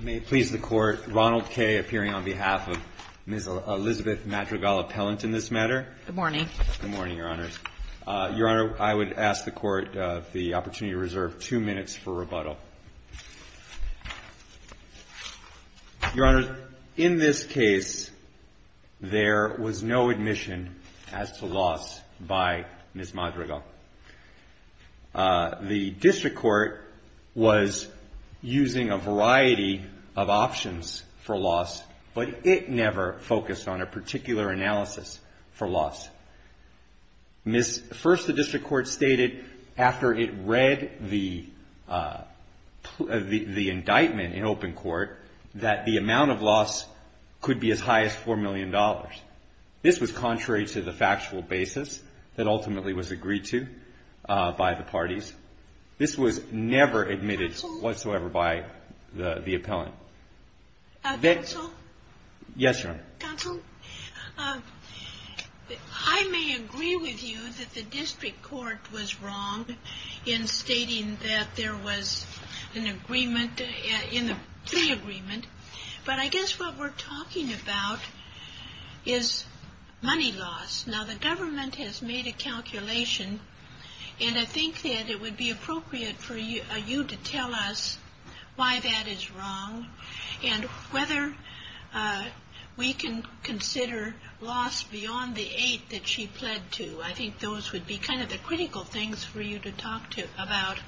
May it please the Court, Ronald Kaye appearing on behalf of Ms. Elizabeth Madrigal-Appellant in this matter. Good morning. Good morning, Your Honors. Your Honor, I would ask the Court of the opportunity to reserve two minutes for rebuttal. Your Honors, in this case, there was no admission as to loss by Ms. Madrigal. The District Court was using a variety of options for loss, but it never focused on a particular analysis for loss. First, the District Court stated after it read the indictment in open court that the amount of loss could be as high as $4 million. This was contrary to the factual basis that ultimately was agreed to by the parties. This was never admitted whatsoever by the Appellant. Counsel? Yes, Your Honor. Counsel, I may agree with you that the District Court was wrong in stating that there was an agreement in the plea agreement, but I guess what we're talking about is money loss. Now, the government has made a calculation, and I think that it would be appropriate for you to tell us why that is wrong and whether we can consider loss beyond the eight that she pled to. I think those would be kind of the critical things for you to talk about.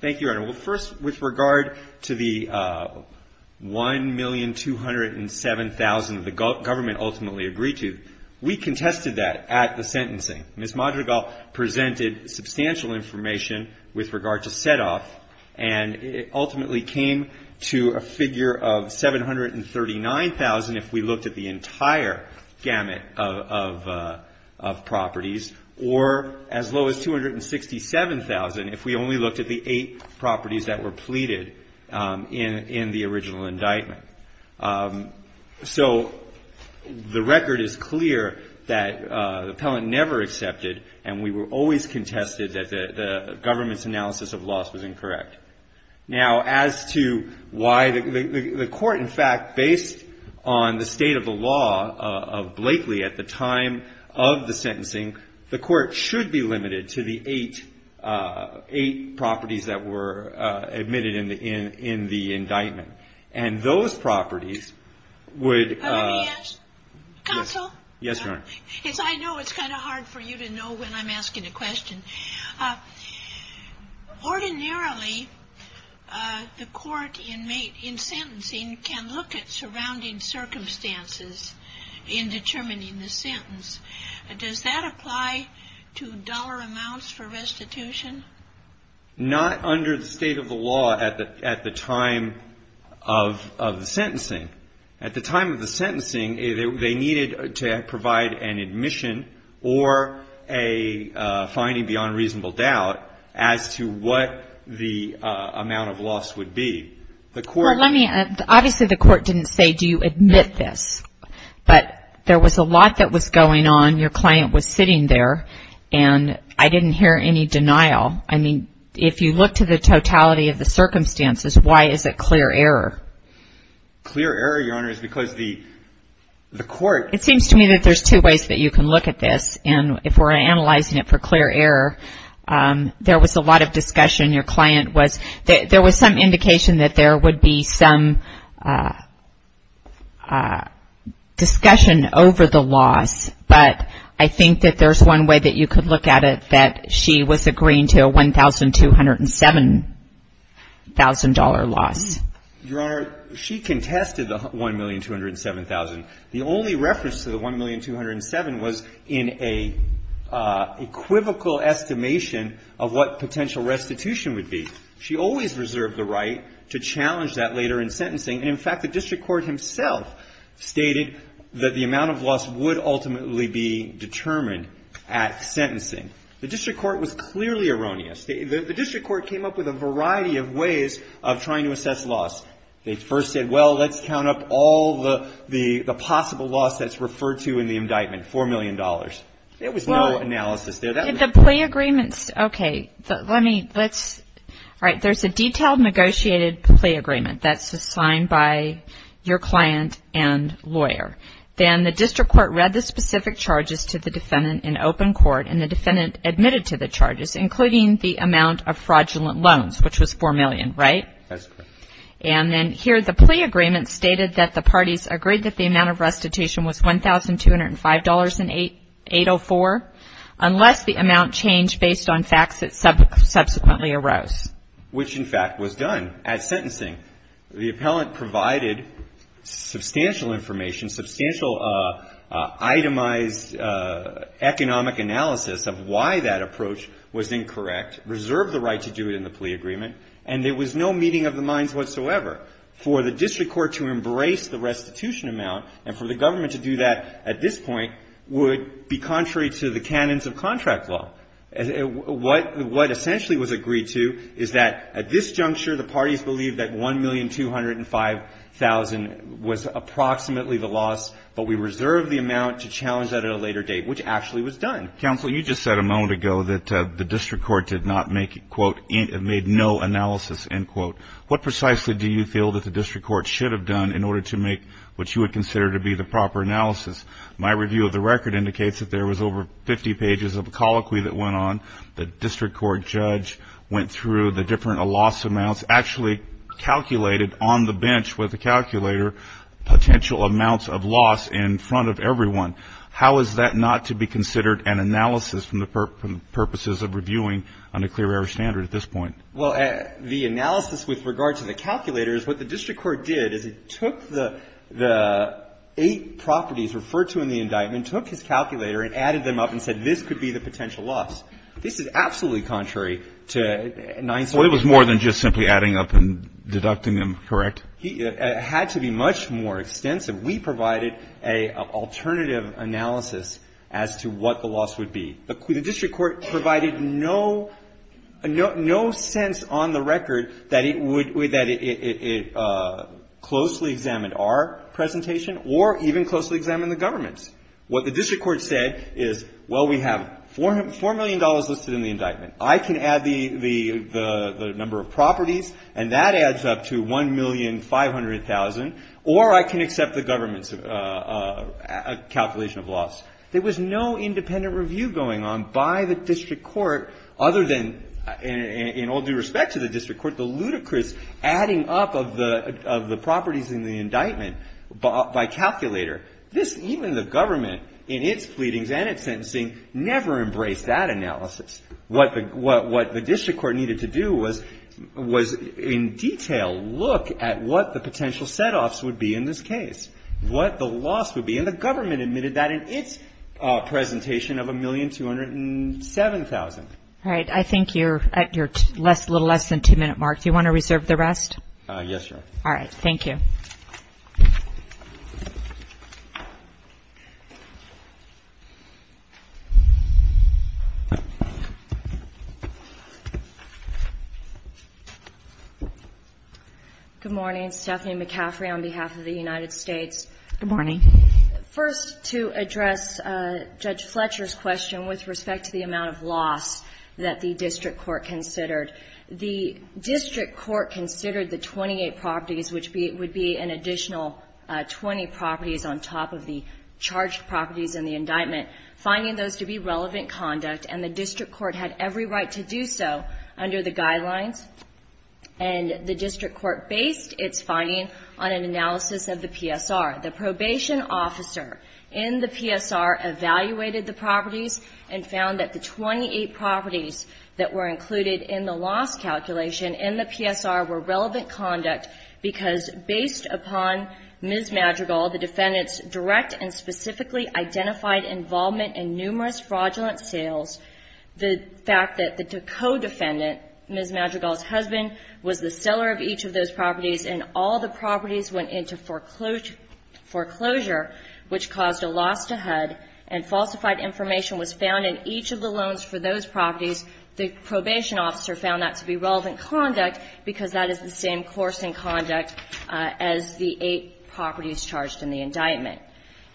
Thank you, Your Honor. Well, first, with regard to the $1,207,000 that the government ultimately agreed to, we contested that at the sentencing. Ms. Madrigal presented substantial information with regard to set-off, and it ultimately came to a figure of $739,000 if we looked at the entire gamut of properties, or as low as $267,000 if we only looked at the eight properties that were pleaded in the original indictment. So the record is clear that the Appellant never accepted, and we were always to why the court, in fact, based on the state of the law of Blakely at the time of the sentencing, the court should be limited to the eight properties that were admitted in the indictment. And those properties would – Let me ask, counsel, because I know it's kind of hard for you to know when I'm asking a question. Ordinarily, the court in sentencing can look at surrounding circumstances in determining the sentence. Does that apply to dollar amounts for restitution? Not under the state of the law at the time of the sentencing. At the time of the sentencing, they needed to provide an admission or a finding beyond reasonable doubt as to what the amount of loss would be. The court – Well, let me – obviously, the court didn't say, do you admit this? But there was a lot that was going on. Your client was sitting there, and I didn't hear any denial. I mean, if you look to the totality of the circumstances, why is it clear error? Clear error, Your Honor, is because the court – It seems to me that there's two ways that you can look at this. And if we're analyzing it for clear error, there was a lot of discussion. Your client was – there was some indication that there would be some discussion over the loss. But I think that there's one way that you could look at it, that she was agreeing to a $1,207,000 loss. Your Honor, she contested the $1,207,000. The only reference to the $1,207,000 was in a equivocal estimation of what potential restitution would be. She always reserved the right to challenge that later in sentencing. And in fact, the district court himself stated that the amount of loss would ultimately be determined at sentencing. The district court was clearly erroneous. The district court came up with a variety of ways of trying to assess loss. They first said, well, let's count up all the possible loss that's referred to in the indictment, $4 million. There was no analysis there. The plea agreements – okay, let me – let's – all right, there's a detailed negotiated plea agreement that's assigned by your client and lawyer. Then the district court read the specific charges to the defendant in open court, and the defendant admitted to the charges, including the amount of fraudulent loans, which was $4 million, right? That's correct. And then here the plea agreement stated that the parties agreed that the amount of restitution was $1,205.804, unless the amount changed based on facts that subsequently arose. Which in fact was done at sentencing. The appellant provided substantial information, substantial itemized economic analysis of why that approach was incorrect, reserved the right to do it in the plea agreement, and there was no meeting of the minds whatsoever. For the district court to embrace the restitution amount, and for the government to do that at this point, would be contrary to the canons of contract law. What essentially was agreed to is that at this juncture the parties believed that $1,205,000 was approximately the loss but we reserved the amount to challenge that at a later date, which actually was done. Counsel, you just said a moment ago that the district court did not make, quote, made no analysis, end quote. What precisely do you feel that the district court should have done in order to make what you would consider to be the proper analysis? My review of the record indicates that there was over 50 pages of colloquy that went on. The district court judge went through the different loss amounts, actually calculated on the bench with a calculator potential amounts of loss in front of everyone. How is that not to be considered an analysis from the purposes of reviewing under clear air standard at this point? Well, the analysis with regard to the calculator is what the district court did is it took the eight properties referred to in the indictment, took his calculator and added them up and said this could be the potential loss. This is absolutely contrary to 9-11. Well, it was more than just simply adding up and deducting them, correct? It had to be much more extensive. We provided an alternative analysis as to what the loss would be. The district court provided no sense on the record that it would, that it closely examined our presentation or even closely examined the government's. What the district court said is, well, we have $4 million listed in the indictment. I can add the number of properties and that adds up to $1,500,000 or I can accept the government's calculation of loss. There was no independent review going on by the district court other than in all due respect to the district court, the ludicrous adding up of the properties in the indictment by calculator. This, even the government in its pleadings and its sentencing never embraced that analysis. What the district court needed to do was in detail look at what the potential set-offs would be in this case, what the loss would be. And the government admitted that in its presentation of $1,207,000. All right. I think you're at your little less than two-minute mark. Do you want to reserve the rest? Yes, Your Honor. All right. Thank you. Good morning. Stephanie McCaffrey on behalf of the United States. Good morning. First, to address Judge Fletcher's question with respect to the amount of loss that the district court considered, the district court considered the 28 properties, which would be an additional 20 properties on top of the charged properties in the indictment, finding those to be relevant conduct, and the district court had every right to do so under the guidelines. And the district court based its finding on an analysis of the PSR. The probation officer in the PSR evaluated the properties and found that the 28 properties that were included in the loss calculation in the PSR were relevant conduct because based upon Ms. Madrigal, the defendant's direct and specifically identified involvement in numerous fraudulent sales, the fact that the co-defendant, Ms. Madrigal's husband, was the seller of each of those properties and all the properties went into foreclosure, which caused a loss to HUD, and falsified that information was found in each of the loans for those properties. The probation officer found that to be relevant conduct because that is the same course in conduct as the eight properties charged in the indictment.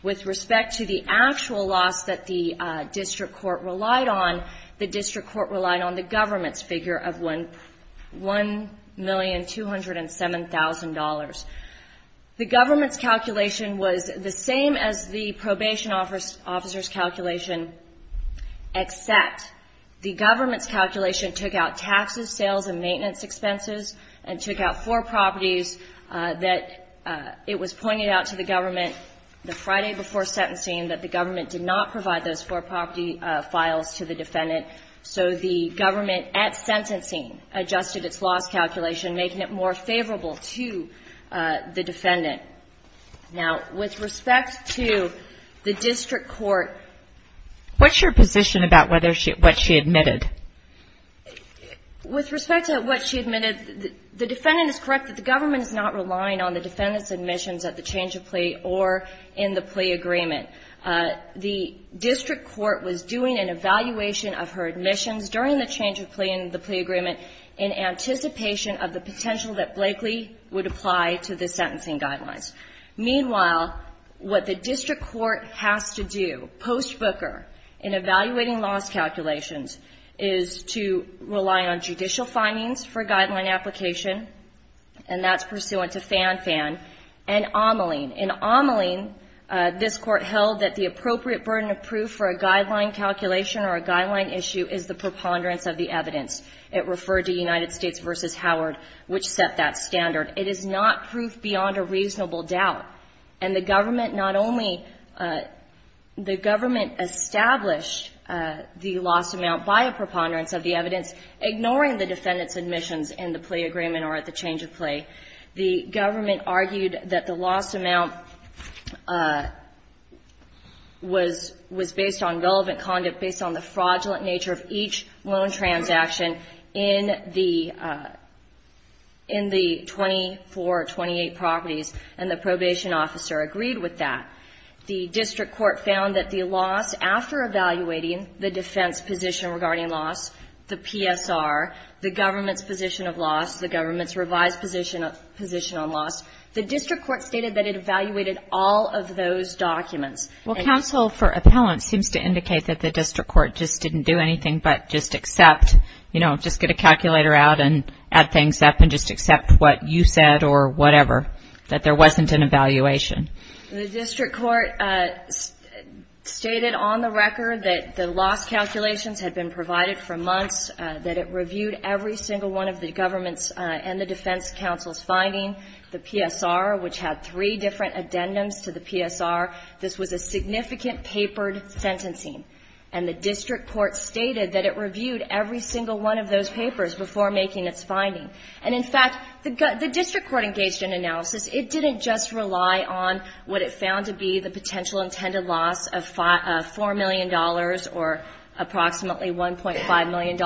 With respect to the actual loss that the district court relied on, the district court relied on the government's figure of $1,207,000. The government's calculation was the same as the probation officer's calculation, except the government's calculation took out taxes, sales and maintenance expenses and took out four properties that it was pointed out to the government the Friday before sentencing that the government did not provide those four property files to the defendant. So the government at sentencing adjusted its loss calculation, making it more favorable to the defendant. Now, with respect to the district court — What's your position about what she admitted? With respect to what she admitted, the defendant is correct that the government is not relying on the defendant's admissions at the change of plea or in the plea agreement. The district court was doing an evaluation of her admissions during the plea agreement in anticipation of the potential that Blakely would apply to the sentencing guidelines. Meanwhile, what the district court has to do post-Booker in evaluating loss calculations is to rely on judicial findings for guideline application, and that's pursuant to Fan-Fan and Ameling. In Ameling, this Court held that the appropriate burden of proof for a guideline calculation or a guideline issue is the preponderance of the evidence. It referred to United States v. Howard, which set that standard. It is not proof beyond a reasonable doubt. And the government not only — the government established the loss amount by a preponderance of the evidence, ignoring the defendant's admissions in the plea agreement or at the change of plea. The government argued that the loss amount was — was based on relevant conduct, based on the fraudulent nature of each loan transaction in the — in the 24, 28 properties, and the probation officer agreed with that. The district court found that the loss, after evaluating the defense position regarding loss, the PSR, the government's position of loss, the government's revised position on loss, the district court stated that it evaluated all of those documents. Well, counsel for appellant seems to indicate that the district court just didn't do anything but just accept, you know, just get a calculator out and add things up and just accept what you said or whatever, that there wasn't an evaluation. The district court stated on the record that the loss calculations had been provided for months, that it reviewed every single one of the government's and the defense counsel's finding, the PSR, which had three different addendums to the PSR. This was a significant papered sentencing, and the district court stated that it reviewed every single one of those papers before making its finding. And, in fact, the district court engaged in analysis. It didn't just rely on what it found to be the potential intended loss of $4 million or approximately $1.5 million.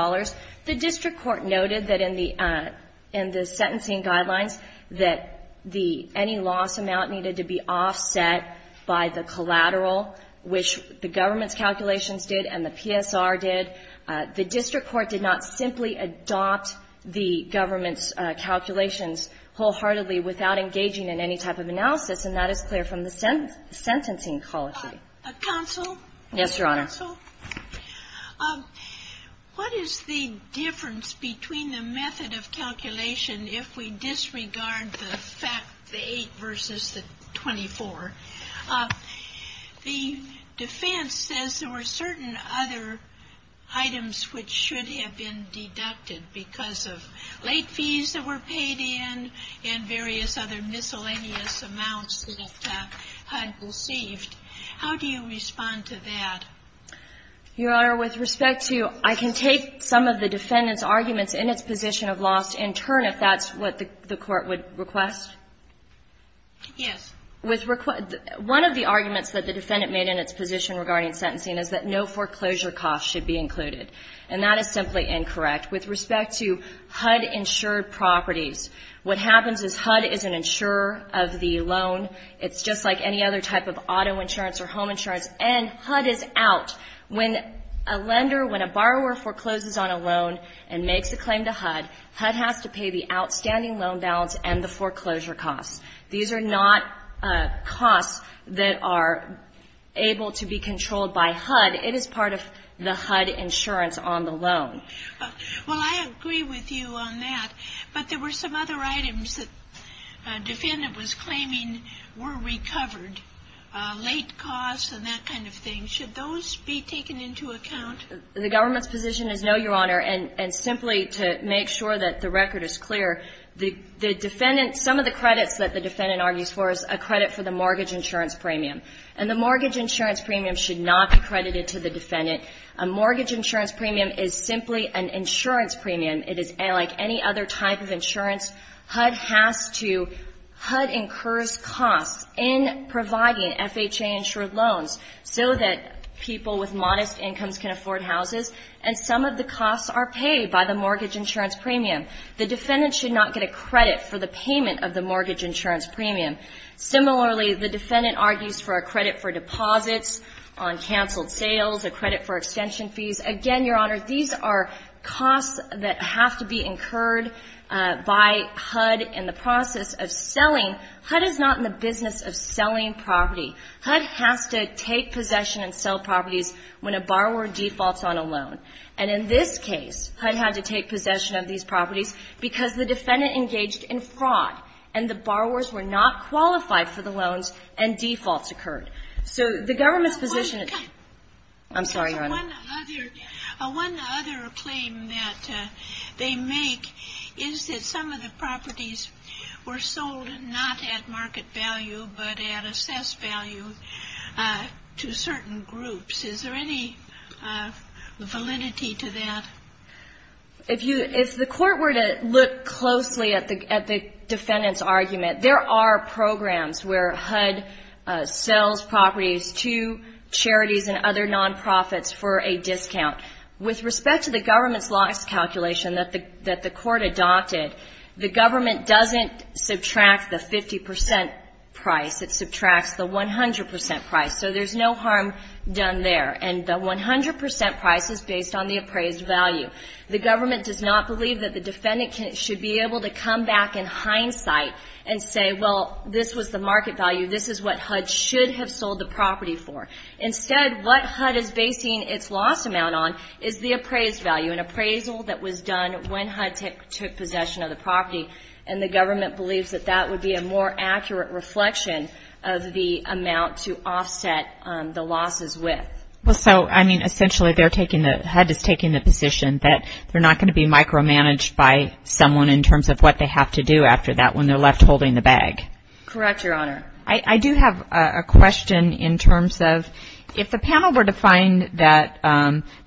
The district court noted that in the — in the sentencing guidelines that the — any offset by the collateral, which the government's calculations did and the PSR did, the district court did not simply adopt the government's calculations wholeheartedly without engaging in any type of analysis. And that is clear from the sentencing policy. Counsel? Yes, Your Honor. Counsel, what is the difference between the method of calculation if we disregard the fact — the 8 versus the 24? The defense says there were certain other items which should have been deducted because of late fees that were paid in and various other miscellaneous amounts that had been received. How do you respond to that? Your Honor, with respect to — I can take some of the defendant's arguments in its position of loss in turn, if that's what the court would request. Yes. With — one of the arguments that the defendant made in its position regarding sentencing is that no foreclosure costs should be included. And that is simply incorrect. With respect to HUD-insured properties, what happens is HUD is an insurer of the loan. It's just like any other type of auto insurance or home insurance. And HUD is out. When a lender, when a borrower forecloses on a loan and makes a claim to HUD, HUD has to pay the outstanding loan balance and the foreclosure costs. These are not costs that are able to be controlled by HUD. It is part of the HUD insurance on the loan. Well, I agree with you on that. But there were some other items that the defendant was claiming were recovered, late costs and that kind of thing. Should those be taken into account? The government's position is no, Your Honor. And simply to make sure that the record is clear, the defendant — some of the credits that the defendant argues for is a credit for the mortgage insurance premium. And the mortgage insurance premium should not be credited to the defendant. A mortgage insurance premium is simply an insurance premium. It is like any other type of insurance. HUD has to — HUD incurs costs in providing FHA-insured loans so that people with modest incomes can afford houses. And some of the costs are paid by the mortgage insurance premium. The defendant should not get a credit for the payment of the mortgage insurance premium. Similarly, the defendant argues for a credit for deposits on canceled sales, a credit for extension fees. Again, Your Honor, these are costs that have to be incurred by HUD in the process of selling. HUD is not in the business of selling property. HUD has to take possession and sell properties when a borrower defaults on a loan. And in this case, HUD had to take possession of these properties because the defendant engaged in fraud and the borrowers were not qualified for the loans and defaults occurred. So the government's position is — I'm sorry, Your Honor. One other claim that they make is that some of the properties were sold not at market value but at assessed value to certain groups. Is there any validity to that? If you — if the Court were to look closely at the defendant's argument, there are With respect to the government's loss calculation that the Court adopted, the government doesn't subtract the 50 percent price. It subtracts the 100 percent price. So there's no harm done there. And the 100 percent price is based on the appraised value. The government does not believe that the defendant should be able to come back in hindsight and say, well, this was the market value, this is what HUD should have sold the property for. Instead, what HUD is basing its loss amount on is the appraised value, an appraisal that was done when HUD took possession of the property. And the government believes that that would be a more accurate reflection of the amount to offset the losses with. Well, so, I mean, essentially they're taking the — HUD is taking the position that they're not going to be micromanaged by someone in terms of what they have to do after that when they're left holding the bag. Correct, Your Honor. I do have a question in terms of if the panel were to find that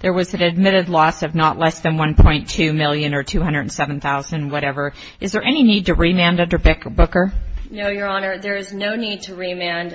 there was an admitted loss of not less than $1.2 million or $207,000, whatever, is there any need to remand under Booker? No, Your Honor. There is no need to remand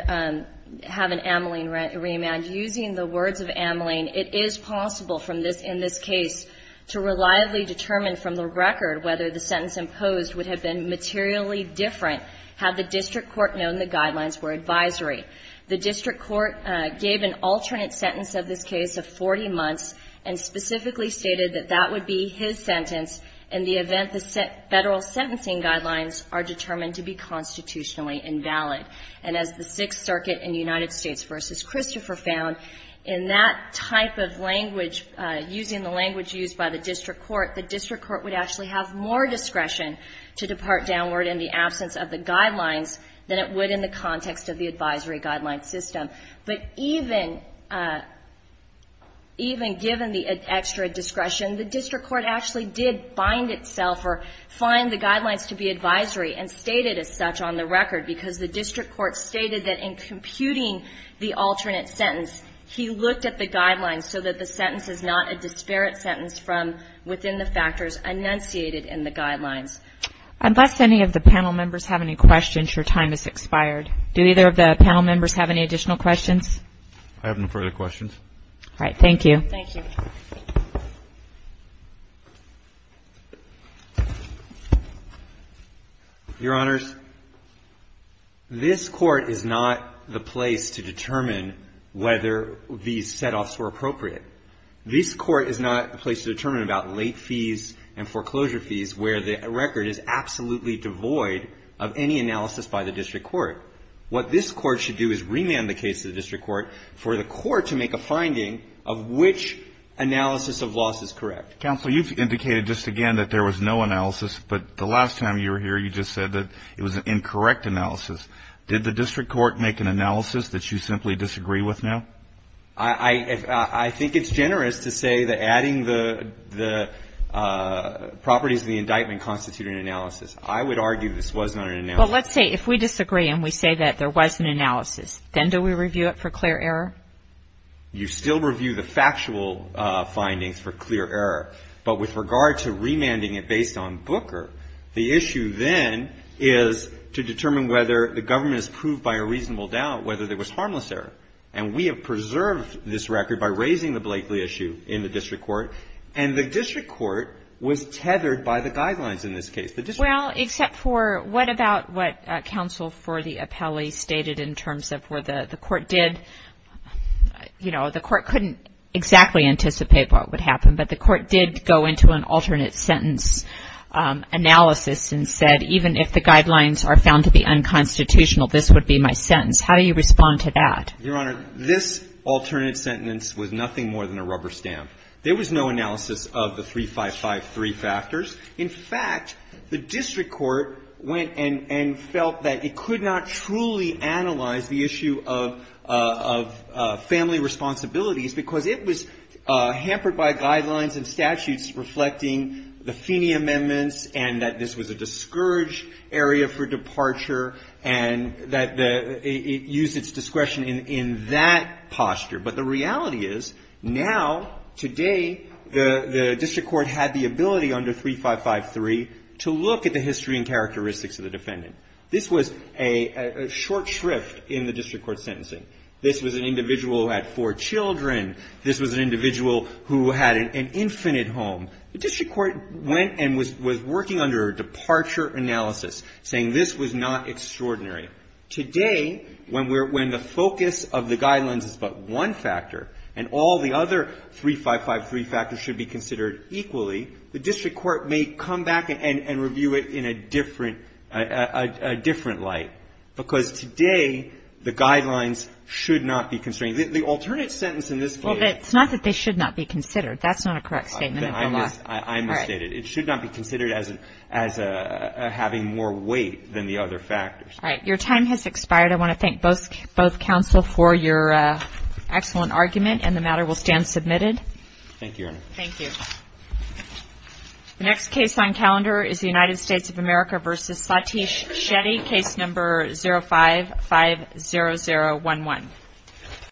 — have an amyling remand. Using the words of amyling, it is possible from this — in this case to reliably determine from the record whether the sentence imposed would have been materially different. Had the district court known the guidelines were advisory. The district court gave an alternate sentence of this case of 40 months and specifically stated that that would be his sentence in the event the federal sentencing guidelines are determined to be constitutionally invalid. And as the Sixth Circuit in the United States v. Christopher found, in that type of language, using the language used by the district court, the district court would actually have more discretion to depart downward in the absence of the guidelines than it would in the context of the advisory guideline system. But even — even given the extra discretion, the district court actually did bind itself or find the guidelines to be advisory and stated as such on the record, because the district court stated that in computing the alternate sentence, he looked at the guidelines so that the sentence is not a disparate sentence from within the factors enunciated in the guidelines. Unless any of the panel members have any questions, your time has expired. Do either of the panel members have any additional questions? I have no further questions. All right. Thank you. Thank you. Your Honors, this Court is not the place to determine whether these setoffs were appropriate. This Court is not the place to determine about late fees and foreclosure fees where the record is absolutely devoid of any analysis by the district court. What this Court should do is remand the case to the district court for the court to make a finding of which analysis of loss is correct. Counsel, you've indicated just again that there was no analysis, but the last time you were here, you just said that it was an incorrect analysis. Did the district court make an analysis that you simply disagree with now? I think it's generous to say that adding the properties of the indictment constitute an analysis. I would argue this was not an analysis. But let's say if we disagree and we say that there was an analysis, then do we review it for clear error? You still review the factual findings for clear error. But with regard to remanding it based on Booker, the issue then is to determine whether the government has proved by a reasonable doubt whether there was harmless error. And we have preserved this record by raising the Blakeley issue in the district court. And the district court was tethered by the guidelines in this case. Well, except for what about what counsel for the appellee stated in terms of where the court did, you know, the court couldn't exactly anticipate what would happen. But the court did go into an alternate sentence analysis and said even if the guidelines are found to be unconstitutional, this would be my sentence. How do you respond to that? Your Honor, this alternate sentence was nothing more than a rubber stamp. There was no analysis of the 3553 factors. In fact, the district court went and felt that it could not truly analyze the issue of family responsibilities because it was hampered by guidelines and statutes reflecting the Feeney amendments and that this was a discouraged area for departure and that it used its discretion in that posture. But the reality is now, today, the district court had the ability under 3553 to look at the history and characteristics of the defendant. This was a short shrift in the district court sentencing. This was an individual who had four children. This was an individual who had an infinite home. The district court went and was working under a departure analysis, saying this was not extraordinary. Today, when the focus of the guidelines is but one factor and all the other 3553 factors should be considered equally, the district court may come back and review it in a different light, because today the guidelines should not be constrained. The alternate sentence in this case was not that they should not be considered. Right. It should not be considered as having more weight than the other factors. All right. Your time has expired. I want to thank both counsel for your excellent argument, and the matter will stand submitted. Thank you, Your Honor. Thank you. The next case on calendar is the United States of America v. Satish Shetty, case number 0550011.